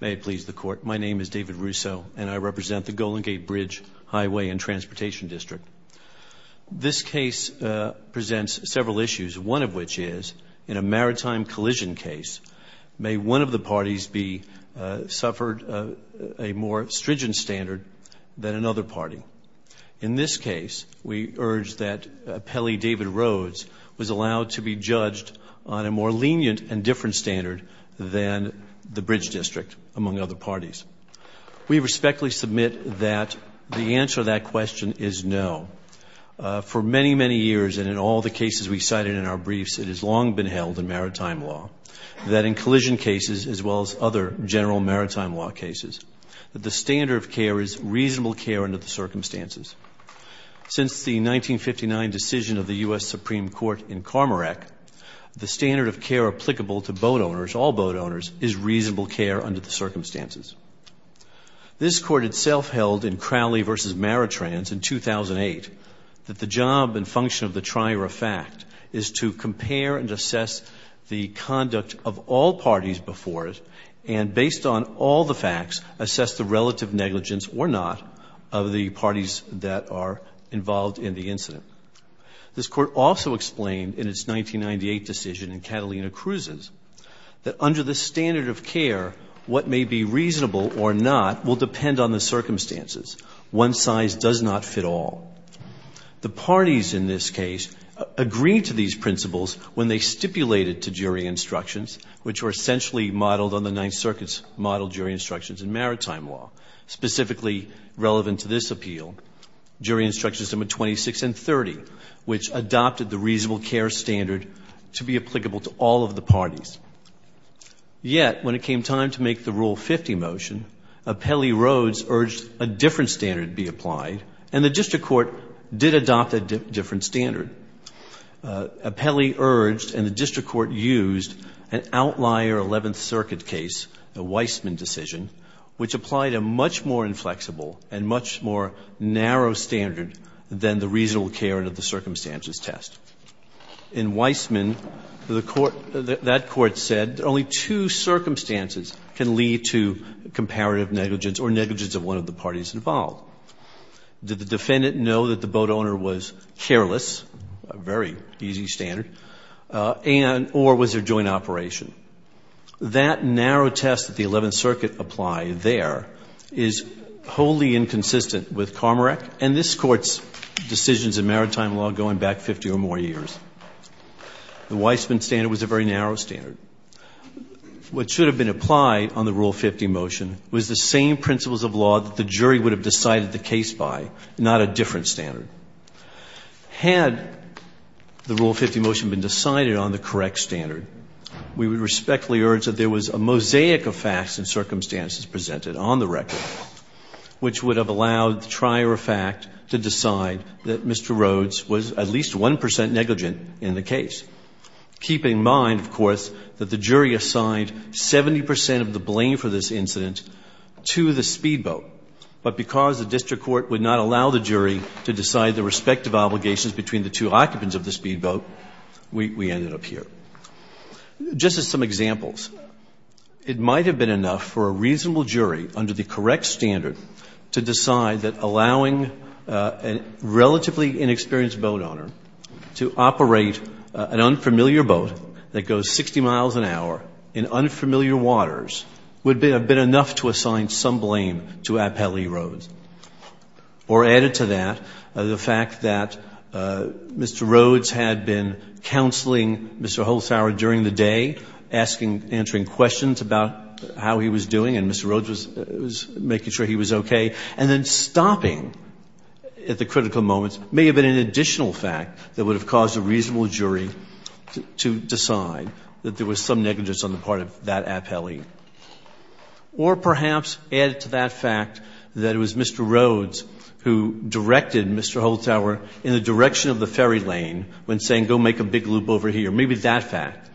May it please the Court, my name is David Russo, and I represent the Golden Gate Bridge Hwy. & Transp. Dist. This case presents several issues, one of which is, in a maritime collision case, may one of the parties be suffered a more stringent standard than another party. In this case, we urge that appellee David Rhodes was allowed to be judged on a more lenient and different standard than the bridge district, among other parties. We respectfully submit that the answer to that question is no. For many, many years, and in all the cases we cited in our briefs, it has long been held in maritime law, that in collision cases, as well as other general maritime law cases, that the standard of care is reasonable care under the circumstances. Since the 1959 decision of the U.S. Supreme Court in Carmerec, the standard of care applicable to boat owners, all boat owners, is reasonable care under the circumstances. This Court itself held in Crowley v. Maritrans in 2008, that the job and function of the trier of fact is to compare and assess the conduct of all parties before it, and based on all the facts, assess the relative negligence or not of the parties that are involved in the incident. This Court also explained in its 1998 decision in Catalina Cruises, that under the standard of care, what may be reasonable or not will depend on the circumstances. One size does not fit all. The parties in this case agreed to these principles when they stipulated to jury instructions, which were essentially modeled on the Ninth Circuit's model jury instructions in maritime law, specifically relevant to this appeal, jury instructions number 26 and 30, which adopted the reasonable care standard to be applicable to all of the parties. Yet, when it came time to make the Rule 50 motion, Appellee Rhodes urged a different standard be applied, and the district court did adopt a different standard. Appellee urged and the district court used an outlier Eleventh Circuit case, the Weisman decision, which applied a much more inflexible and much more narrow standard than the reasonable care under the circumstances test. In Weisman, the court, that court said only two circumstances can lead to comparative negligence or negligence of one of the parties involved. Did the defendant know that the boat owner was careless, a very easy standard, and or was there joint operation? That narrow test that the Eleventh Circuit applied there is wholly inconsistent with Carmorack and this Court's decisions in maritime law going back 50 or more years. The Weisman standard was a very narrow standard. What should have been applied on the Rule 50 motion was the same principles of law that the jury would have decided the case by, not a different standard. Had the Rule 50 motion been decided on the correct standard, we would respectfully urge that there was a mosaic of facts and circumstances presented on the record, which would have allowed the trier of fact to decide that Mr. Rhodes was at least 1% negligent in the case, keeping in mind, of course, that the jury assigned 70% of the blame for this incident to the speedboat. But because the district court would not allow the jury to decide the respective obligations between the two occupants of the speedboat, we ended up here. Just as some examples, it might have been enough for a reasonable jury under the correct standard to decide that allowing a relatively inexperienced boat owner to operate an unfamiliar boat that goes 60 miles an hour in unfamiliar waters would have been enough to assign some blame to Appellee Rhodes. Or added to that, the fact that Mr. Rhodes had been counseling Mr. Holzhauer during the day, asking, answering questions about how he was doing, and Mr. Rhodes was making sure he was okay, and then stopping at the critical moments may have been an additional fact that would have caused a reasonable jury to decide that there was some negligence on the part of that Appellee. Or perhaps added to that fact that it was Mr. Rhodes who directed Mr. Holzhauer in the direction of the ferry lane when saying, go make a big loop over here. Maybe that fact.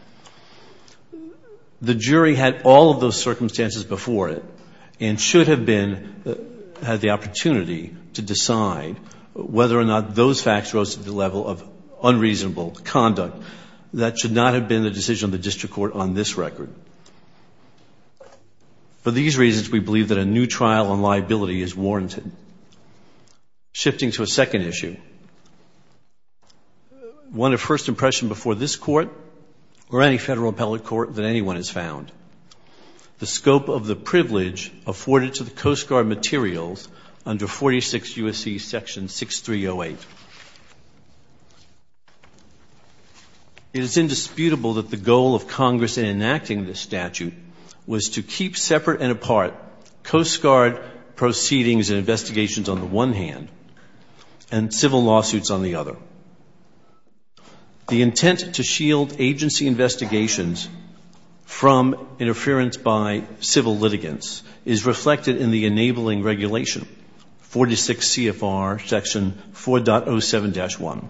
The jury had all of those circumstances before it and should have been, had the opportunity to decide whether or not those facts rose to the level of unreasonable conduct that should not have been the decision of the district court on this record. For these reasons, we believe that a new trial on liability is warranted. Shifting to a second issue. One of first impression before this court or any federal appellate court that anyone has found. The scope of the privilege afforded to the Coast Guard materials under 46 U.S.C. Section 6308. It is indisputable that the goal of Congress in enacting this statute was to keep separate and apart Coast Guard proceedings and investigations on the one hand, and civil lawsuits on the other. The intent to shield agency investigations from interference by civil litigants is reflected in the enabling regulation, 46 CFR Section 4.07-1.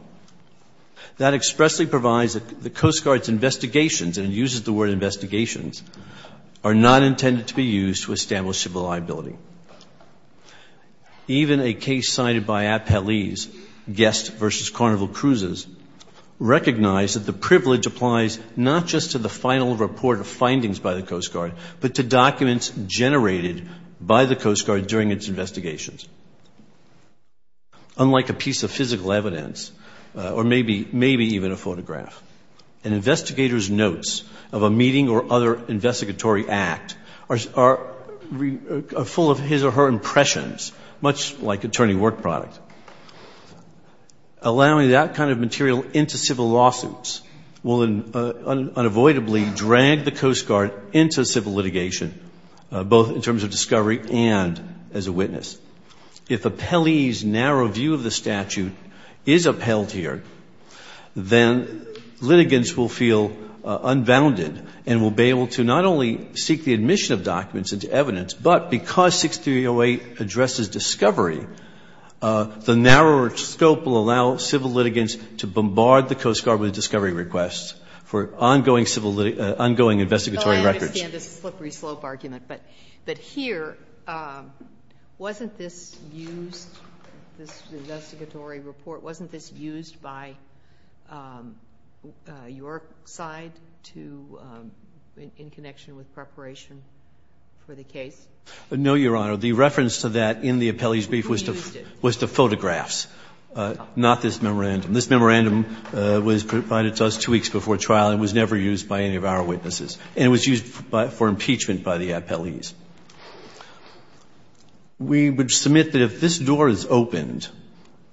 That expressly provides that the Coast Guard's investigations, and it uses the word investigations, are not intended to be used to establish civil liability. Even a case cited by Appellee's, Guest v. Carnival Cruises, recognized that the privilege applies not just to the final report of findings by the Coast Guard, but to documents generated by the Coast Guard during its investigations. Unlike a piece of physical evidence, or maybe even a photograph, an investigator's notes of a meeting or other investigatory act are full of evidence and full of his or her impressions, much like attorney work product. Allowing that kind of material into civil lawsuits will unavoidably drag the Coast Guard into civil litigation, both in terms of discovery and as a witness. If Appellee's narrow view of the statute is upheld here, then litigants will feel unbounded and will be able to not only seek the admission of documents into evidence, but because 6308 addresses discovery, the narrower scope will allow civil litigants to bombard the Coast Guard with discovery requests for ongoing investigatory records. Sotomayor, I understand this slippery slope argument, but here, wasn't this used, this investigatory report, wasn't this used by your side to, in connection with preparation for the case? No, Your Honor. The reference to that in the Appellee's brief was to photographs, not this memorandum. This memorandum was provided to us two weeks before trial and was never used by any of our witnesses, and it was used for impeachment by the appellees. We would submit that if this door is opened,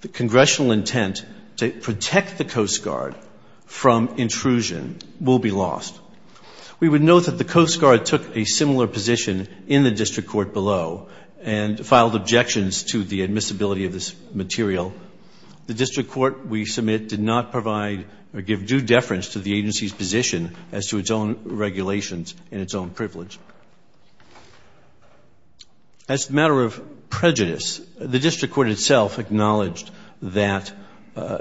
the congressional intent to protect the Coast Guard from intrusion will be lost. We would note that the Coast Guard took a similar position in the district court below and filed objections to the admissibility of this material. The district court we submit did not provide or give due deference to the agency's position as to its own regulations and its own privilege. As a matter of prejudice, the district court itself acknowledged that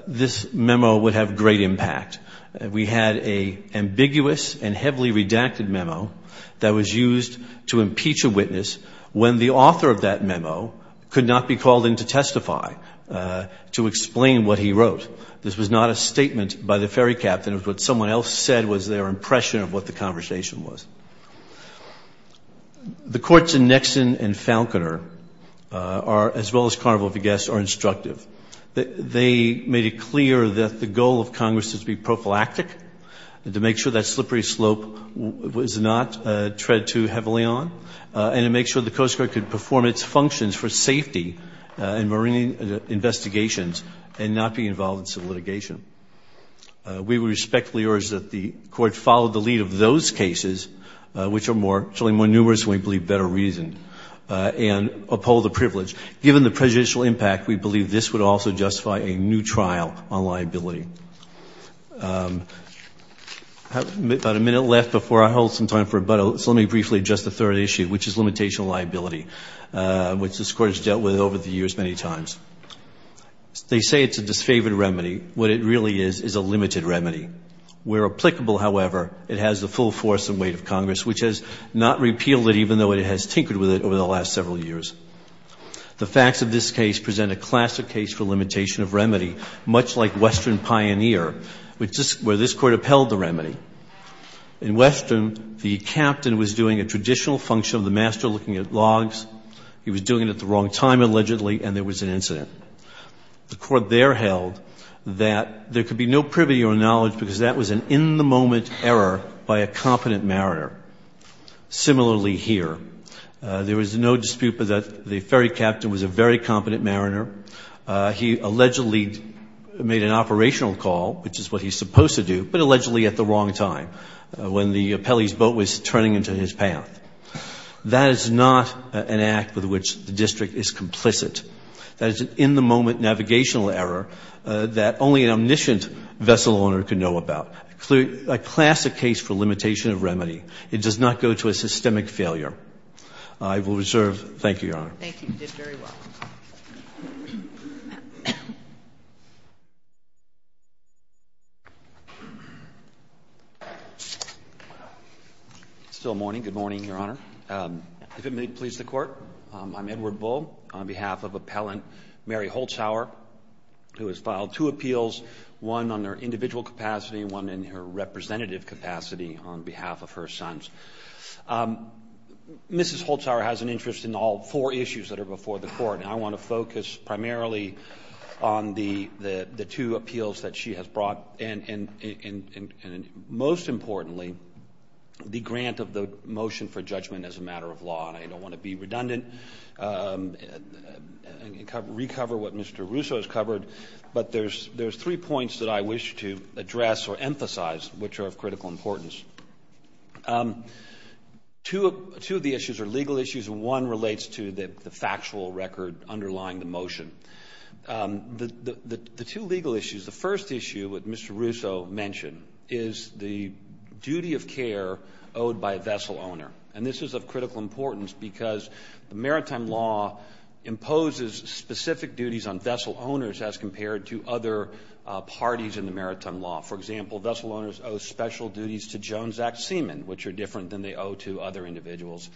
this memo would have great impact. We had an ambiguous and heavily redacted memo that was used to impeach a witness when the author of that memo could not be called in to testify to explain what he wrote. This was not a statement by the ferry captain. It was what someone else said was their impression of what the conversation was. The courts in Nixon and Falconer, as well as Carnival Viguesque, are instructive. They made it clear that the goal of Congress is to be prophylactic, to make sure that slippery slope was not tread too heavily on, and to make sure the Coast Guard could perform its functions for safety in marine investigations and not be involved in civil litigation. We respectfully urge that the court follow the lead of those cases, which are more numerous and we believe better reason, and uphold the privilege. Given the prejudicial impact, we believe this would also justify a new trial on liability. I have about a minute left before I hold some time for rebuttal, so let me briefly address the third issue, which is limitation of liability, which this Court has dealt with over the years many times. They say it's a disfavored remedy. What it really is is a limited remedy. Where applicable, however, it has the full force and weight of Congress, which has not repealed it, even though it has tinkered with it over the last several years. The facts of this case present a classic case for limitation of remedy, much like Western Pioneer, where this Court upheld the remedy. In Western, the captain was doing a traditional function of the master, looking at logs. He was doing it at the wrong time, allegedly, and there was an incident. The Court there held that there could be no privity or knowledge because that was an in-the-moment error by a competent mariner. Similarly here. There was no dispute that the ferry captain was a very competent mariner. He allegedly made an operational call, which is what he's supposed to do, but allegedly at the wrong time, when the Pelly's boat was turning into his path. That is not an act with which the district is complicit. That is an in-the-moment navigational error that only an omniscient vessel owner can know about. A classic case for limitation of remedy. It does not go to a systemic failure. I will reserve. Thank you, Your Honor. Thank you. You did very well. It's still morning. Good morning, Your Honor. If it may please the Court, I'm Edward Bull on behalf of Appellant Mary Holtzhauer, who has filed two appeals, one on her individual capacity and one in her representative capacity on behalf of her sons. Mrs. Holtzhauer has an interest in all four issues that are before the Court, and I want to focus primarily on the two appeals that she has brought and, most importantly, the grant of the motion for judgment as a matter of law. I don't want to be redundant and recover what Mr. Russo has covered, but there are three points that I wish to address or emphasize which are of critical importance. Two of the issues are legal issues, and one relates to the factual record underlying the motion. The two legal issues, the first issue that Mr. Russo mentioned, is the duty of care owed by a vessel owner. And this is of critical importance because the Maritime Law imposes specific duties on vessel owners as compared to other parties in the Maritime Law. For example, vessel owners owe special duties to Jones Act seamen, which are different than they owe to other individuals,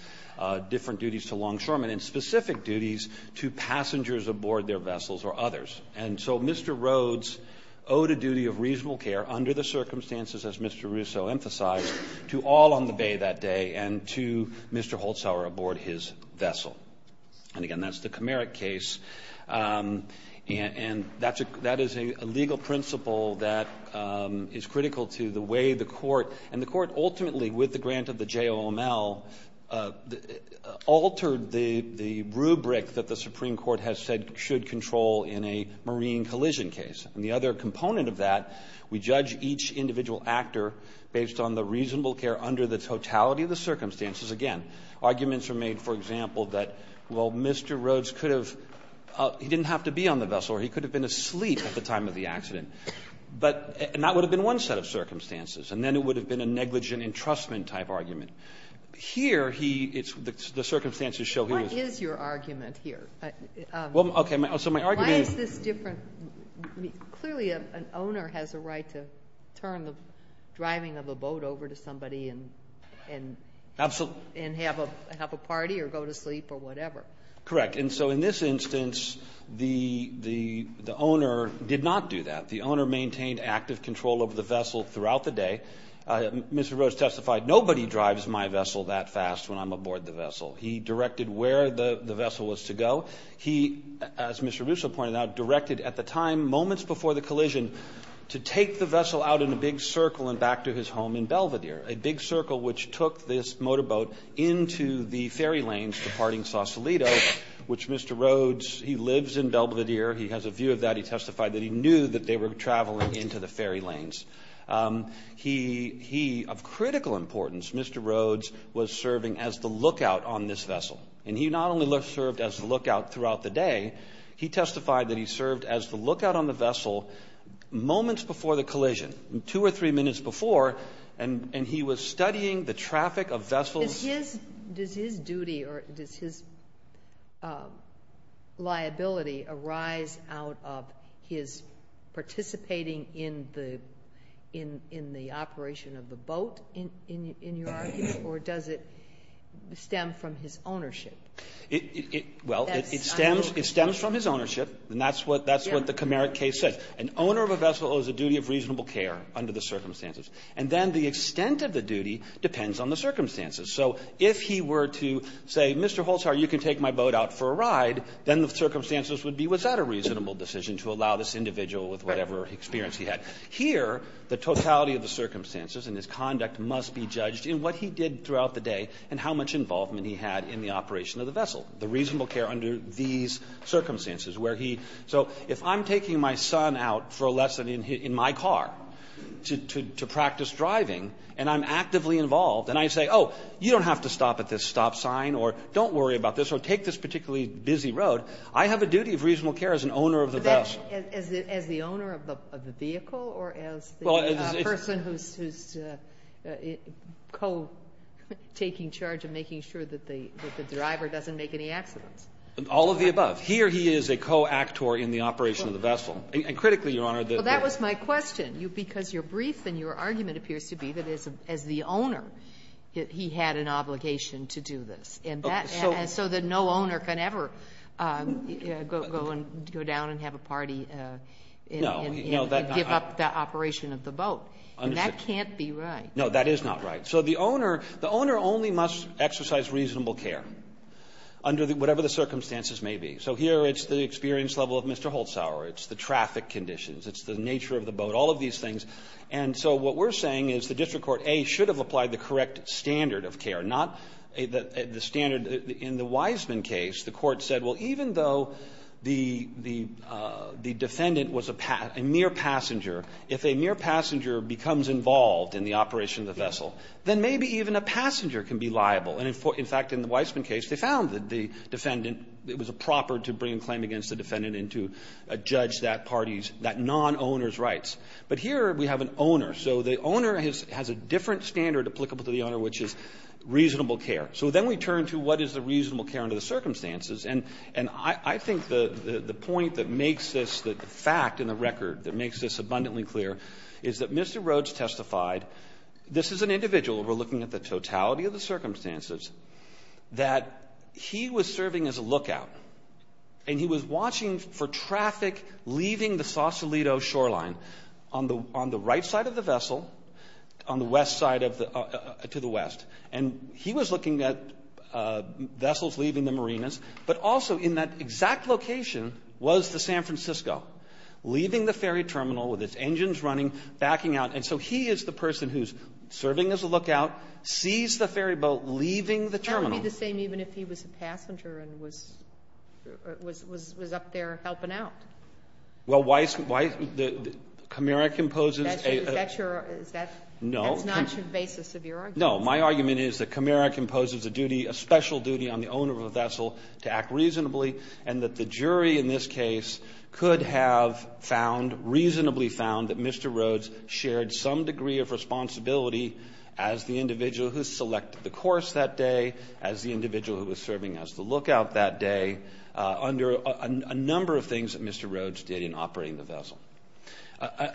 different duties to longshoremen, and specific duties to passengers aboard their vessels or others. And so Mr. Rhodes owed a duty of reasonable care under the circumstances, as Mr. Russo emphasized, to all on the bay that day and to Mr. Holzhauer aboard his vessel. And, again, that's the Comeric case. And that is a legal principle that is critical to the way the Court, and the Court ultimately with the grant of the JOML, altered the rubric that the Supreme Court has said should control in a marine collision case. And the other component of that, we judge each individual actor based on the reasonable care under the totality of the circumstances. Again, arguments are made, for example, that, well, Mr. Rhodes could have he didn't have to be on the vessel or he could have been asleep at the time of the accident. But that would have been one set of circumstances. And then it would have been a negligent entrustment type argument. Here, he the circumstances show he was. Ginsburg. What is your argument here? Well, okay. So my argument is. Clearly an owner has a right to turn the driving of a boat over to somebody and have a party or go to sleep or whatever. Correct. And so in this instance, the owner did not do that. The owner maintained active control of the vessel throughout the day. Mr. Rhodes testified, nobody drives my vessel that fast when I'm aboard the vessel. He directed where the vessel was to go. He, as Mr. Russo pointed out, directed at the time, moments before the collision, to take the vessel out in a big circle and back to his home in Belvedere, a big circle which took this motorboat into the ferry lanes departing Sausalito, which Mr. Rhodes, he lives in Belvedere. He has a view of that. He testified that he knew that they were traveling into the ferry lanes. He, of critical importance, Mr. Rhodes was serving as the lookout on this vessel. And he not only served as the lookout throughout the day, he testified that he served as the lookout on the vessel moments before the collision, two or three minutes before, and he was studying the traffic of vessels. Does his duty or does his liability arise out of his participating in the operation of the boat, in your argument, or does it stem from his ownership? Well, it stems from his ownership. And that's what the Comeric case says. An owner of a vessel owes a duty of reasonable care under the circumstances. And then the extent of the duty depends on the circumstances. So if he were to say, Mr. Holzhauer, you can take my boat out for a ride, then the circumstances would be, was that a reasonable decision to allow this individual with whatever experience he had? Here, the totality of the circumstances and his conduct must be judged in what he did throughout the day and how much involvement he had in the operation of the vessel, the reasonable care under these circumstances where he so if I'm taking my son out for a lesson in my car to practice driving and I'm actively involved and I say, oh, you don't have to stop at this stop sign or don't worry about this or take this particularly busy road, I have a duty of reasonable care as an owner of the vessel. As the owner of the vehicle or as the person who's co-taking charge of making sure that the driver doesn't make any accidents? All of the above. Here he is a co-actor in the operation of the vessel. And critically, Your Honor, the ---- Well, that was my question. Because your brief and your argument appears to be that as the owner, he had an obligation to do this. And so that no owner can ever go down and have a party and give up the operation of the boat. And that can't be right. No, that is not right. So the owner only must exercise reasonable care under whatever the circumstances may be. So here it's the experience level of Mr. Holzhauer. It's the traffic conditions. It's the nature of the boat, all of these things. And so what we're saying is the district court, A, should have applied the correct standard of care, not the standard. In the Wiseman case, the court said, well, even though the defendant was a mere passenger, if a mere passenger becomes involved in the operation of the vessel, then maybe even a passenger can be liable. And, in fact, in the Wiseman case, they found that the defendant, it was proper to bring a claim against the defendant and to judge that party's, that non-owner's But here we have an owner. So the owner has a different standard applicable to the owner, which is reasonable care. So then we turn to what is the reasonable care under the circumstances. And I think the point that makes this, the fact in the record that makes this abundantly clear is that Mr. Rhodes testified, this is an individual, we're looking at the totality of the circumstances, that he was serving as a lookout. And he was watching for traffic leaving the Sausalito shoreline on the right side of the vessel, on the west side of the, to the west. And he was looking at vessels leaving the marinas. But also in that exact location was the San Francisco, leaving the ferry terminal with its engines running, backing out. And so he is the person who's serving as a lookout, sees the ferry boat, leaving the terminal. That would be the same even if he was a passenger and was up there helping out. Well, why is, why, Camara composes a. Is that your, is that. No. That's not your basis of your argument. No. My argument is that Camara composes a duty, a special duty on the owner of a vessel to act reasonably and that the jury in this case could have found, reasonably found that Mr. Rhodes shared some degree of responsibility as the individual who selected the course that day, as the individual who was serving as the lookout that day under a number of things that Mr. Rhodes did in operating the vessel.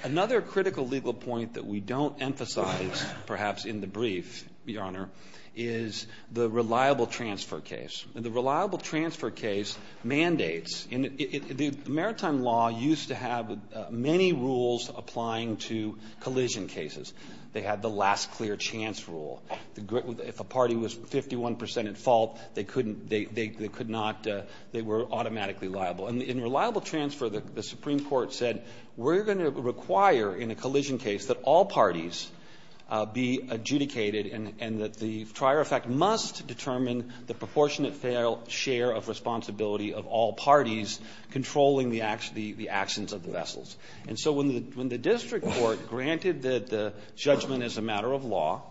Another critical legal point that we don't emphasize, perhaps in the brief, Your Honor, is the reliable transfer case. And the reliable transfer case mandates, and the maritime law used to have many rules applying to collision cases. They had the last clear chance rule. If a party was 51 percent at fault, they couldn't, they could not, they were automatically liable. And in reliable transfer, the Supreme Court said we're going to require in a collision case that all parties be adjudicated and that the trier effect must determine the proportionate fair share of responsibility of all parties controlling the actions of the vessels. And so when the district court granted that the judgment is a matter of law,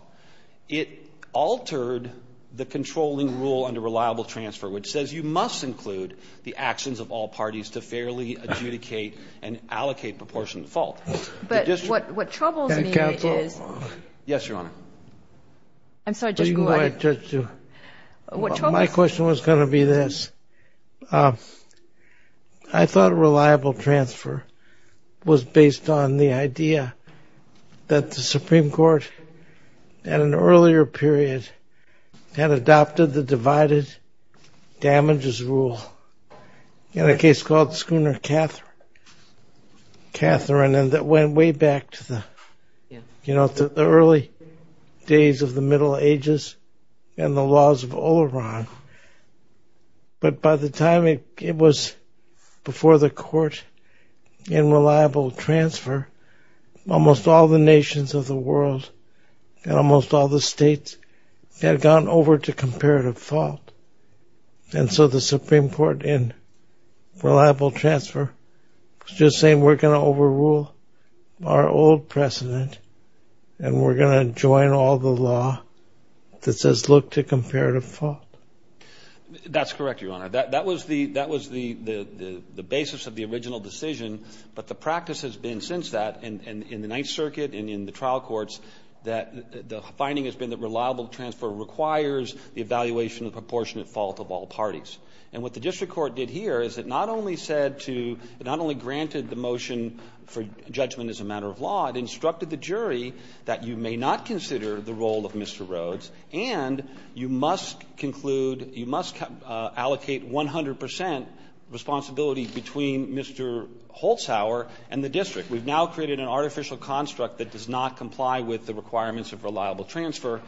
it altered the controlling rule under reliable transfer, which says you must include the actions of all parties to fairly adjudicate and allocate proportionate fault. But what troubles me is. Counsel. Yes, Your Honor. I'm sorry. Just go ahead. My question was going to be this. I thought reliable transfer was based on the idea that the Supreme Court at an earlier period had adopted the divided damages rule in a case called Schooner-Catherine, and that went way back to the early days of the Middle Ages and the laws of Oleron. But by the time it was before the court in reliable transfer, almost all the nations of the world and almost all the states had gone over to comparative fault. And so the Supreme Court in reliable transfer was just saying we're going to comparative fault. That's correct, Your Honor. That was the basis of the original decision. But the practice has been since that in the Ninth Circuit and in the trial courts that the finding has been that reliable transfer requires the evaluation of proportionate fault of all parties. And what the district court did here is it not only said to, it not only granted the motion for judgment as a matter of law, it instructed the jury that you may not consider the role of Mr. Rhodes and you must conclude, you must allocate 100 percent responsibility between Mr. Holzhauer and the district. We've now created an artificial construct that does not comply with the requirements of reliable transfer.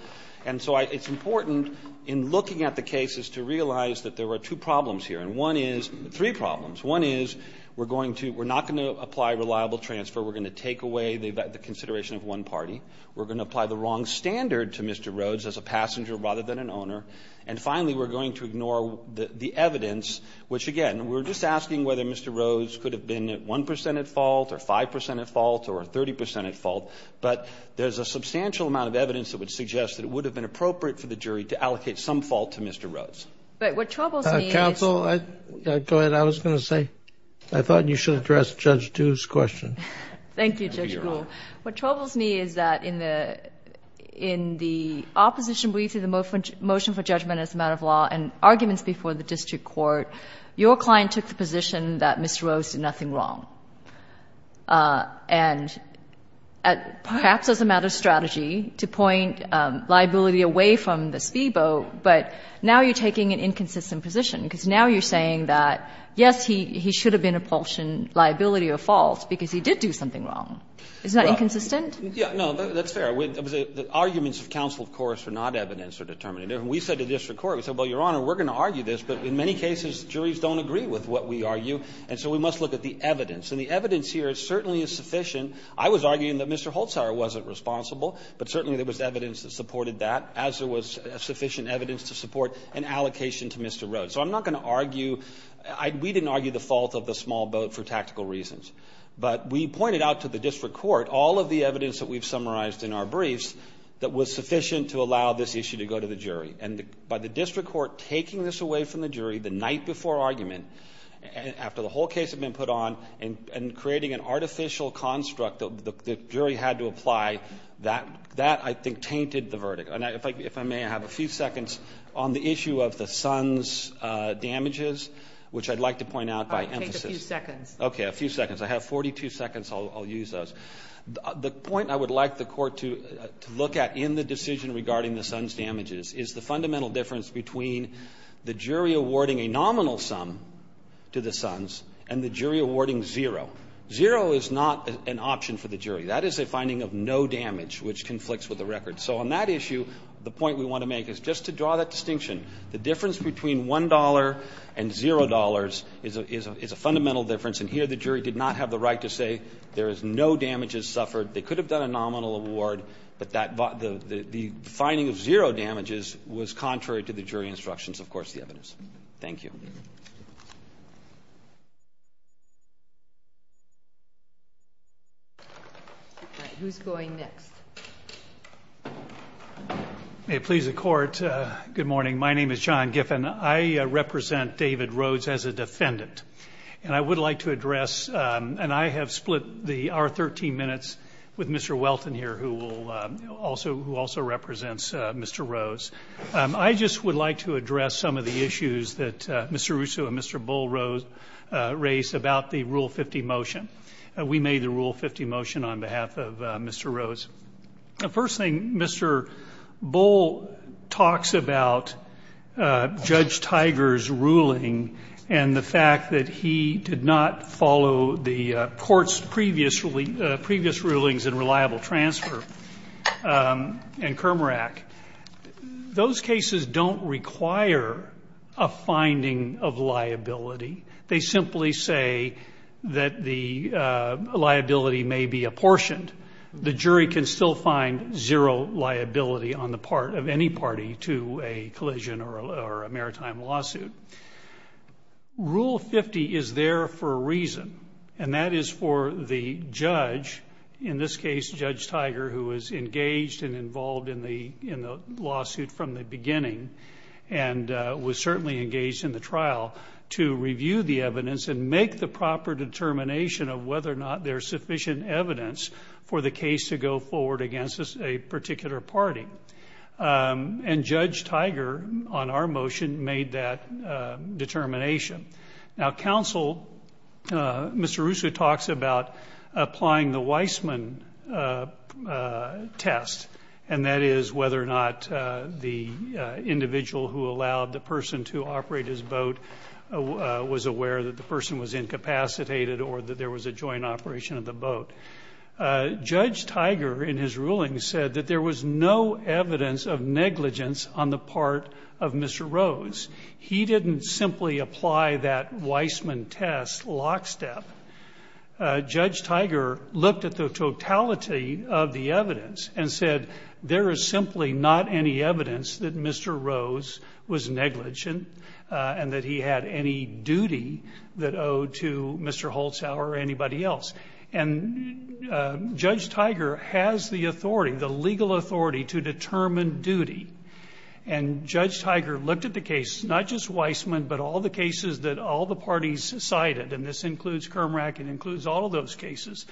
And so it's important in looking at the cases to realize that there were two problems here. And one is, three problems. One is we're going to, we're not going to apply reliable transfer. We're going to take away the consideration of one party. We're going to apply the wrong standard to Mr. Rhodes as a passenger rather than an owner. And finally, we're going to ignore the evidence, which, again, we're just asking whether Mr. Rhodes could have been at 1 percent at fault or 5 percent at fault or 30 percent at fault. But there's a substantial amount of evidence that would suggest that it would have been appropriate for the jury to allocate some fault to Mr. Rhodes. But what troubles me is. Counsel, go ahead. What I was going to say. I thought you should address Judge Du's question. Thank you, Judge Gould. What troubles me is that in the, in the opposition brief to the motion for judgment as a matter of law and arguments before the district court, your client took the position that Mr. Rhodes did nothing wrong. And perhaps as a matter of strategy, to point liability away from the speedboat, but now you're taking an inconsistent position, because now you're saying that, yes, he should have been a portion liability or false because he did do something wrong. Isn't that inconsistent? No, that's fair. The arguments of counsel, of course, were not evidence or determinative. We said to district court, we said, well, Your Honor, we're going to argue this, but in many cases, juries don't agree with what we argue, and so we must look at the evidence. And the evidence here certainly is sufficient. I was arguing that Mr. Holzhauer wasn't responsible, but certainly there was evidence that supported that, as there was sufficient evidence to support an allocation to Mr. Rhodes. So I'm not going to argue, we didn't argue the fault of the small boat for tactical reasons. But we pointed out to the district court all of the evidence that we've summarized in our briefs that was sufficient to allow this issue to go to the jury. And by the district court taking this away from the jury the night before argument, after the whole case had been put on, and creating an artificial construct that the And if I may, I have a few seconds on the issue of the Sons damages, which I'd like to point out by emphasis. I'll take a few seconds. Okay, a few seconds. I have 42 seconds. I'll use those. The point I would like the Court to look at in the decision regarding the Sons damages is the fundamental difference between the jury awarding a nominal sum to the Sons and the jury awarding zero. Zero is not an option for the jury. That is a finding of no damage, which conflicts with the record. So on that issue, the point we want to make is just to draw that distinction. The difference between $1 and $0 is a fundamental difference. And here the jury did not have the right to say there is no damages suffered. They could have done a nominal award. But the finding of zero damages was contrary to the jury instructions, of course, the evidence. Thank you. All right, who's going next? May it please the Court, good morning. My name is John Giffen. I represent David Rhodes as a defendant. And I would like to address, and I have split our 13 minutes with Mr. Welton here, who also represents Mr. Rhodes. I just would like to address some of the issues that Mr. Russo and Mr. Bull raised about the Rule 50 motion. We made the Rule 50 motion on behalf of Mr. Rhodes. First thing, Mr. Bull talks about Judge Tiger's ruling and the fact that he did not Those cases don't require a finding of liability. They simply say that the liability may be apportioned. The jury can still find zero liability on the part of any party to a collision or a maritime lawsuit. Rule 50 is there for a reason, and that is for the judge, in this case Judge Tiger, who was engaged and involved in the lawsuit from the beginning and was certainly engaged in the trial, to review the evidence and make the proper determination of whether or not there is sufficient evidence for the case to go forward against a particular party. And Judge Tiger, on our motion, made that determination. Now, counsel, Mr. Russo talks about applying the Weissman test, and that is whether or not the individual who allowed the person to operate his boat was aware that the person was incapacitated or that there was a joint operation of the boat. Judge Tiger, in his ruling, said that there was no evidence of negligence on the part of Mr. Rhodes. He didn't simply apply that Weissman test lockstep. Judge Tiger looked at the totality of the evidence and said, there is simply not any evidence that Mr. Rhodes was negligent and that he had any duty that owed to Mr. Holzhauer or anybody else. And Judge Tiger has the authority, the legal authority, to determine duty. And Judge Tiger looked at the case, not just Weissman, but all the cases that all the parties cited, and this includes Kermrack, it includes all of those cases,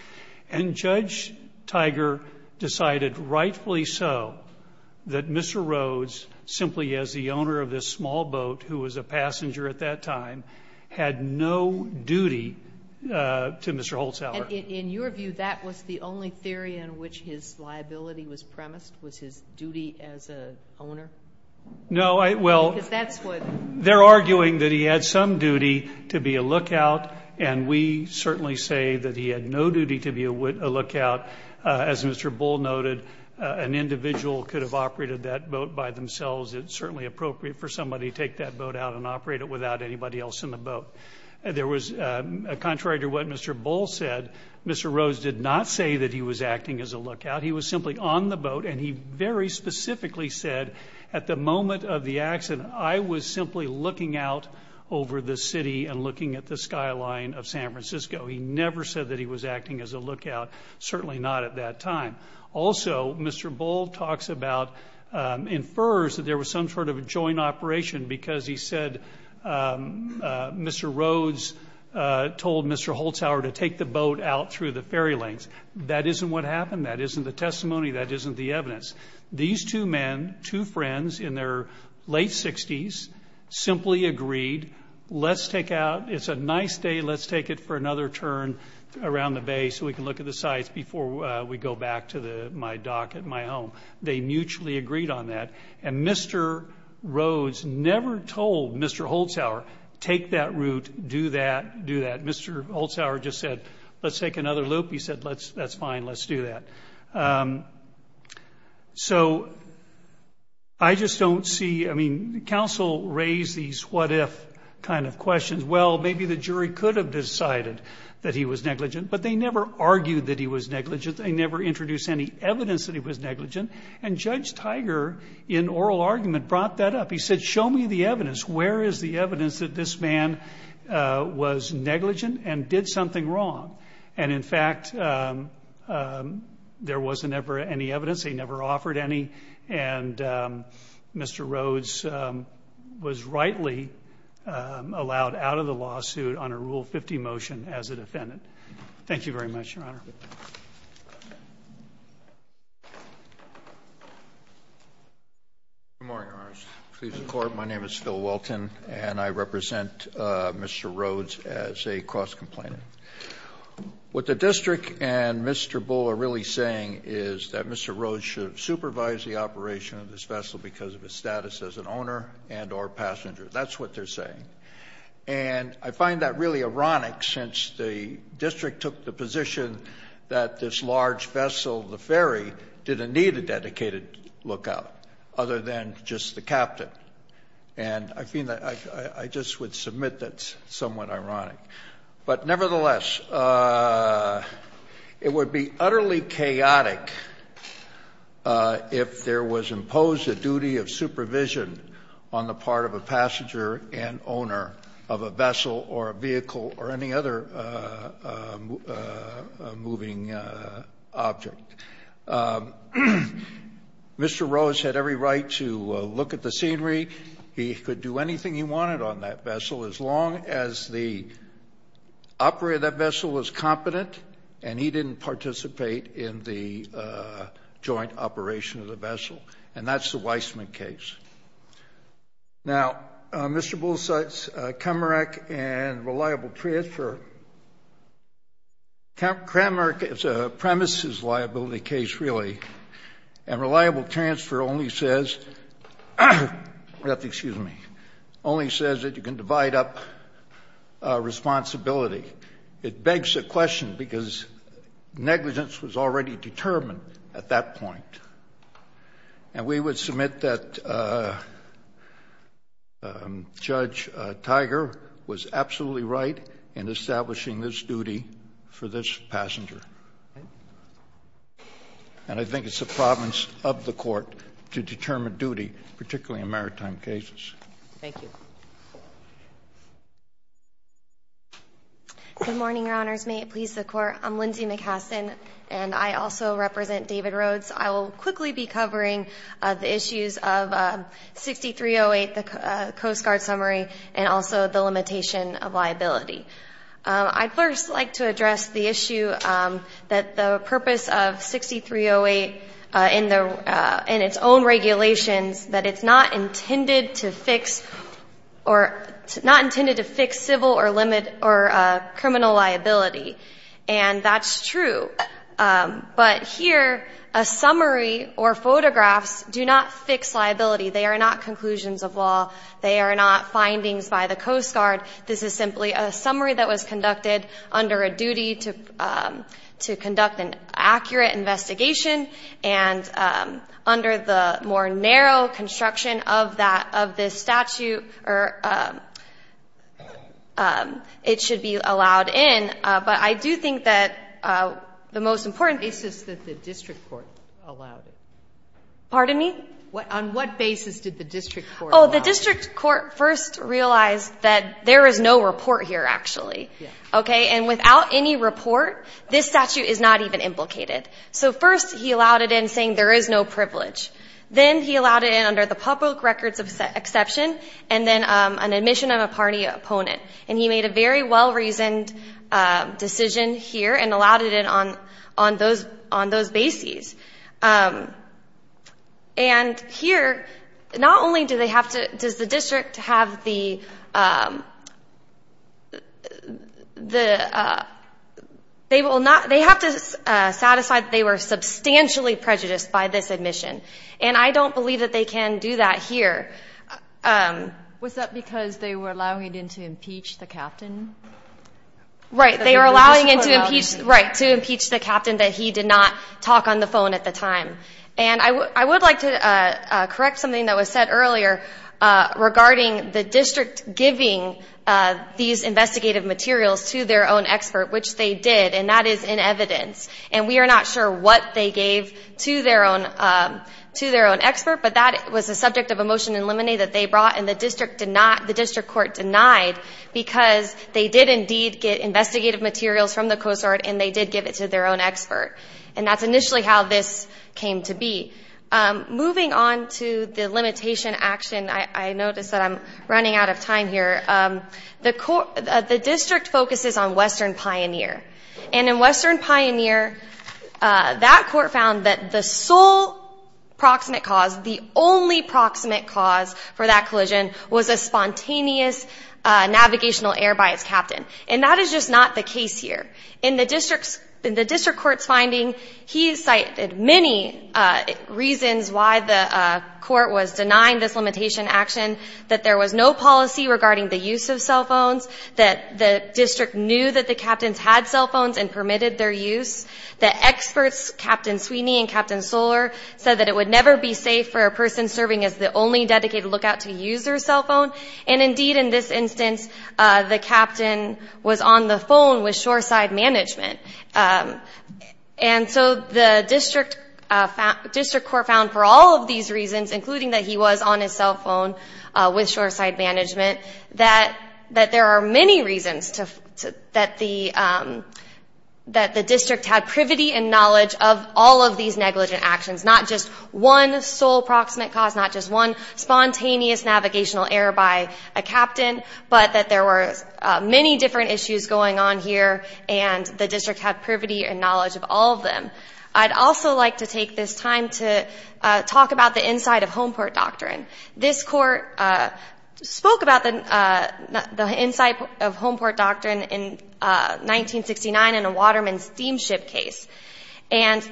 and Judge Tiger decided rightfully so that Mr. Rhodes, simply as the owner of this small boat who was a passenger at that time, had no duty to Mr. Holzhauer. And in your view, that was the only theory in which his liability was premised, was his duty as an owner? No, well, they're arguing that he had some duty to be a lookout, and we certainly say that he had no duty to be a lookout. As Mr. Bull noted, an individual could have operated that boat by themselves. It's certainly appropriate for somebody to take that boat out and operate it without anybody else in the boat. Contrary to what Mr. Bull said, Mr. Rhodes did not say that he was acting as a lookout. He was simply on the boat, and he very specifically said, at the moment of the accident, I was simply looking out over the city and looking at the skyline of San Francisco. He never said that he was acting as a lookout, certainly not at that time. Also, Mr. Bull talks about, infers that there was some sort of a joint operation, because he said Mr. Rhodes told Mr. Holzhauer to take the boat out through the ferry lanes. That isn't what happened. That isn't the testimony. That isn't the evidence. These two men, two friends in their late 60s, simply agreed, let's take out, it's a nice day, let's take it for another turn around the bay so we can look at the sights before we go back to my dock at my home. They mutually agreed on that, and Mr. Rhodes never told Mr. Holzhauer, take that route, do that, do that. Mr. Holzhauer just said, let's take another loop. He said, that's fine, let's do that. So I just don't see, I mean, counsel raised these what if kind of questions. Well, maybe the jury could have decided that he was negligent, but they never argued that he was negligent. They never introduced any evidence that he was negligent, and Judge Tiger, in oral argument, brought that up. He said, show me the evidence. Where is the evidence that this man was negligent and did something wrong? And, in fact, there was never any evidence. They never offered any, and Mr. Rhodes was rightly allowed out of the lawsuit on a Rule 50 motion as a defendant. Thank you very much, Your Honor. Good morning, Your Honor. Please record. My name is Phil Welton, and I represent Mr. Rhodes as a cross-complainant. What the district and Mr. Bull are really saying is that Mr. Rhodes should supervise the operation of this vessel because of his status as an owner and or passenger. That's what they're saying. And I find that really ironic, since the district took the position that this large And I just would submit that's somewhat ironic. But, nevertheless, it would be utterly chaotic if there was imposed a duty of supervision on the part of a passenger and owner of a vessel or a vehicle or any other moving object. Mr. Rhodes had every right to look at the scenery. He could do anything he wanted on that vessel as long as the operator of that vessel was competent and he didn't participate in the joint operation of the vessel. And that's the Weissman case. Now, Mr. Bull cites Kramerich and reliable transfer. Kramerich is a premises liability case, really. And reliable transfer only says that you can divide up responsibility. It begs the question, because negligence was already determined at that point. And we would submit that Judge Tiger was absolutely right in establishing this duty for this passenger. And I think it's the province of the court to determine duty, particularly in maritime cases. Thank you. Good morning, Your Honors. May it please the Court. I'm Lindsay McHassen, and I also represent David Rhodes. I will quickly be covering the issues of 6308, the Coast Guard summary, and also the limitation of liability. I'd first like to address the issue that the purpose of 6308 in its own regulations, that it's not intended to fix civil or criminal liability. And that's true. But here, a summary or photographs do not fix liability. They are not conclusions of law. They are not findings by the Coast Guard. This is simply a summary that was conducted under a duty to conduct an accurate investigation. And under the more narrow construction of this statute, it should be allowed in. But I do think that the most important basis that the district court allowed it. Pardon me? On what basis did the district court allow it? Oh, the district court first realized that there is no report here, actually. Okay? And without any report, this statute is not even implicated. So first he allowed it in saying there is no privilege. Then he allowed it in under the public records of exception, and then an admission of a party opponent. And he made a very well-reasoned decision here and allowed it in on those bases. And here, not only do they have to – does the district have the – they will not – they have to satisfy that they were substantially prejudiced by this admission. And I don't believe that they can do that here. Was that because they were allowing it in to impeach the captain? Right. They were allowing it to impeach – right, to impeach the captain that he did not talk on the phone at the time. And I would like to correct something that was said earlier regarding the district giving these investigative materials to their own expert, which they did. And that is in evidence. And we are not sure what they gave to their own expert, but that was a subject of a motion in limine that they brought and the district did not – the district court denied because they did indeed get investigative materials from the COSART and they did give it to their own expert. And that's initially how this came to be. Moving on to the limitation action, I notice that I'm running out of time here. The district focuses on Western Pioneer. And in Western Pioneer, that court found that the sole proximate cause, the only proximate cause for that collision was a spontaneous navigational error by its captain. And that is just not the case here. In the district court's finding, he cited many reasons why the court was denying this limitation action, that there was no policy regarding the use of cell phones, that the district knew that the captains had cell phones and permitted their use, that experts, Captain Sweeney and Captain Soller, said that it would never be safe for a person serving as the only dedicated lookout to use their cell phone. And indeed, in this instance, the captain was on the phone with Shoreside Management. And so the district court found for all of these reasons, including that he was on his cell phone with Shoreside Management, that there are many reasons that the district had privity and knowledge of all of these negligent actions, not just one sole proximate cause, not just one spontaneous navigational error by a captain, but that there were many different issues going on here, and the district had privity and knowledge of all of them. I'd also like to take this time to talk about the inside-of-home court doctrine. This court spoke about the inside-of-home court doctrine in 1969 in a waterman steamship case. And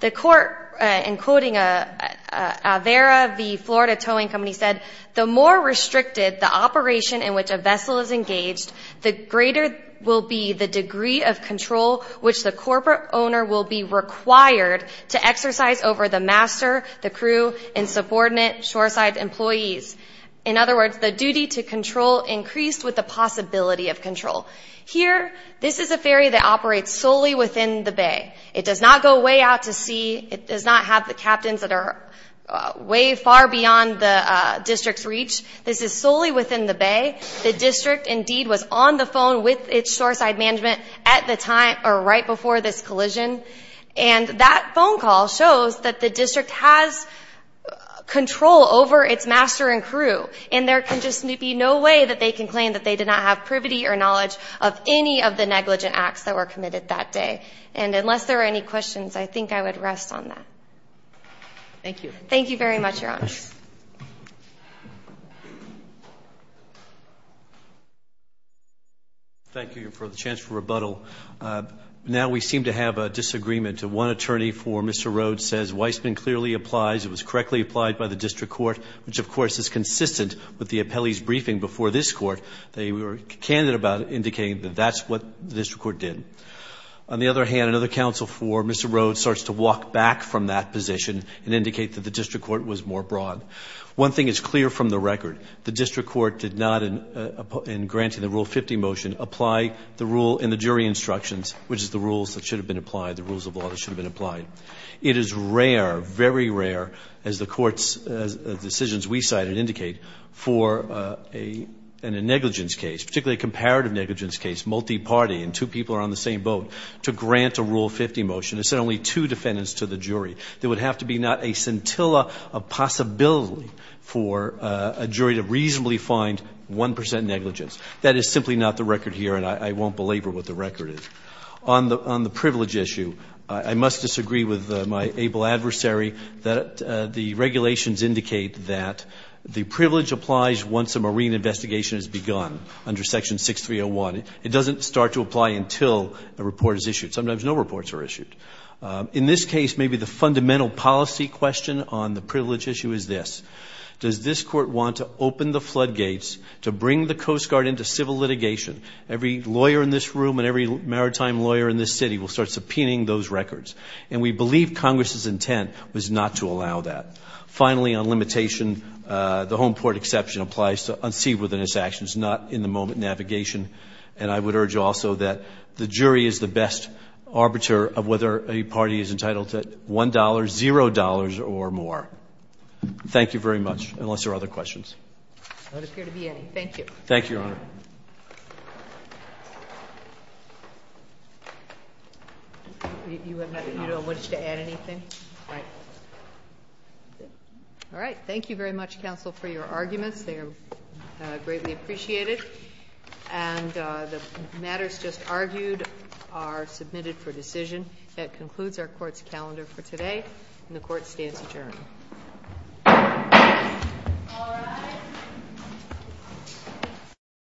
the court, in quoting Avera, the Florida towing company, said, the more restricted the operation in which a vessel is engaged, the greater will be the degree of control which the corporate owner will be required to exercise over the master, the crew, and subordinate shoreside employees. In other words, the duty to control increased with the possibility of control. Here, this is a ferry that operates solely within the bay. It does not go way out to sea. It does not have the captains that are way far beyond the district's reach. This is solely within the bay. The district, indeed, was on the phone with Shoreside Management at the time or right before this collision. And that phone call shows that the district has control over its master and crew. And there can just be no way that they can claim that they did not have privity or knowledge of any of the negligent acts that were committed that day. And unless there are any questions, I think I would rest on that. Thank you. Thank you very much, Your Honors. Thank you for the chance for rebuttal. Now we seem to have a disagreement. One attorney for Mr. Rhodes says Weissman clearly applies. It was correctly applied by the district court, which of course is consistent with the appellee's briefing before this court. They were candid about indicating that that's what the district court did. On the other hand, another counsel for Mr. Rhodes starts to walk back from that position and indicate that the district court was more broad. One thing is clear from the record. The district court did not, in granting the Rule 50 motion, apply the rule in the jury instructions, which is the rules that should have been applied, the rules of law that should have been applied. It is rare, very rare, as the court's decisions we cite and indicate for a negligence case, particularly a comparative negligence case, multi-party and two people are on the same boat, to grant a Rule 50 motion. It's only two defendants to the jury. There would have to be not a scintilla of possibility for a jury to reasonably find 1 percent negligence. That is simply not the record here, and I won't belabor what the record is. On the privilege issue, I must disagree with my able adversary that the regulations indicate that the privilege applies once a marine investigation has begun under Section 6301. It doesn't start to apply until a report is issued. Sometimes no reports are issued. In this case, maybe the fundamental policy question on the privilege issue is this. Does this court want to open the floodgates to bring the Coast Guard into civil litigation? Every lawyer in this room and every maritime lawyer in this city will start subpoenaing those records. And we believe Congress's intent was not to allow that. Finally, on limitation, the home port exception applies to unseaworthiness actions, not in the moment navigation. And I would urge also that the jury is the best arbiter of whether a party is entitled to $1, $0, or more. Thank you very much, unless there are other questions. Thank you. Thank you, Your Honor. You don't wish to add anything? Right. All right. Thank you very much, counsel, for your arguments. They are greatly appreciated. And the matters just argued are submitted for decision. That concludes our court's calendar for today, and the court stands adjourned.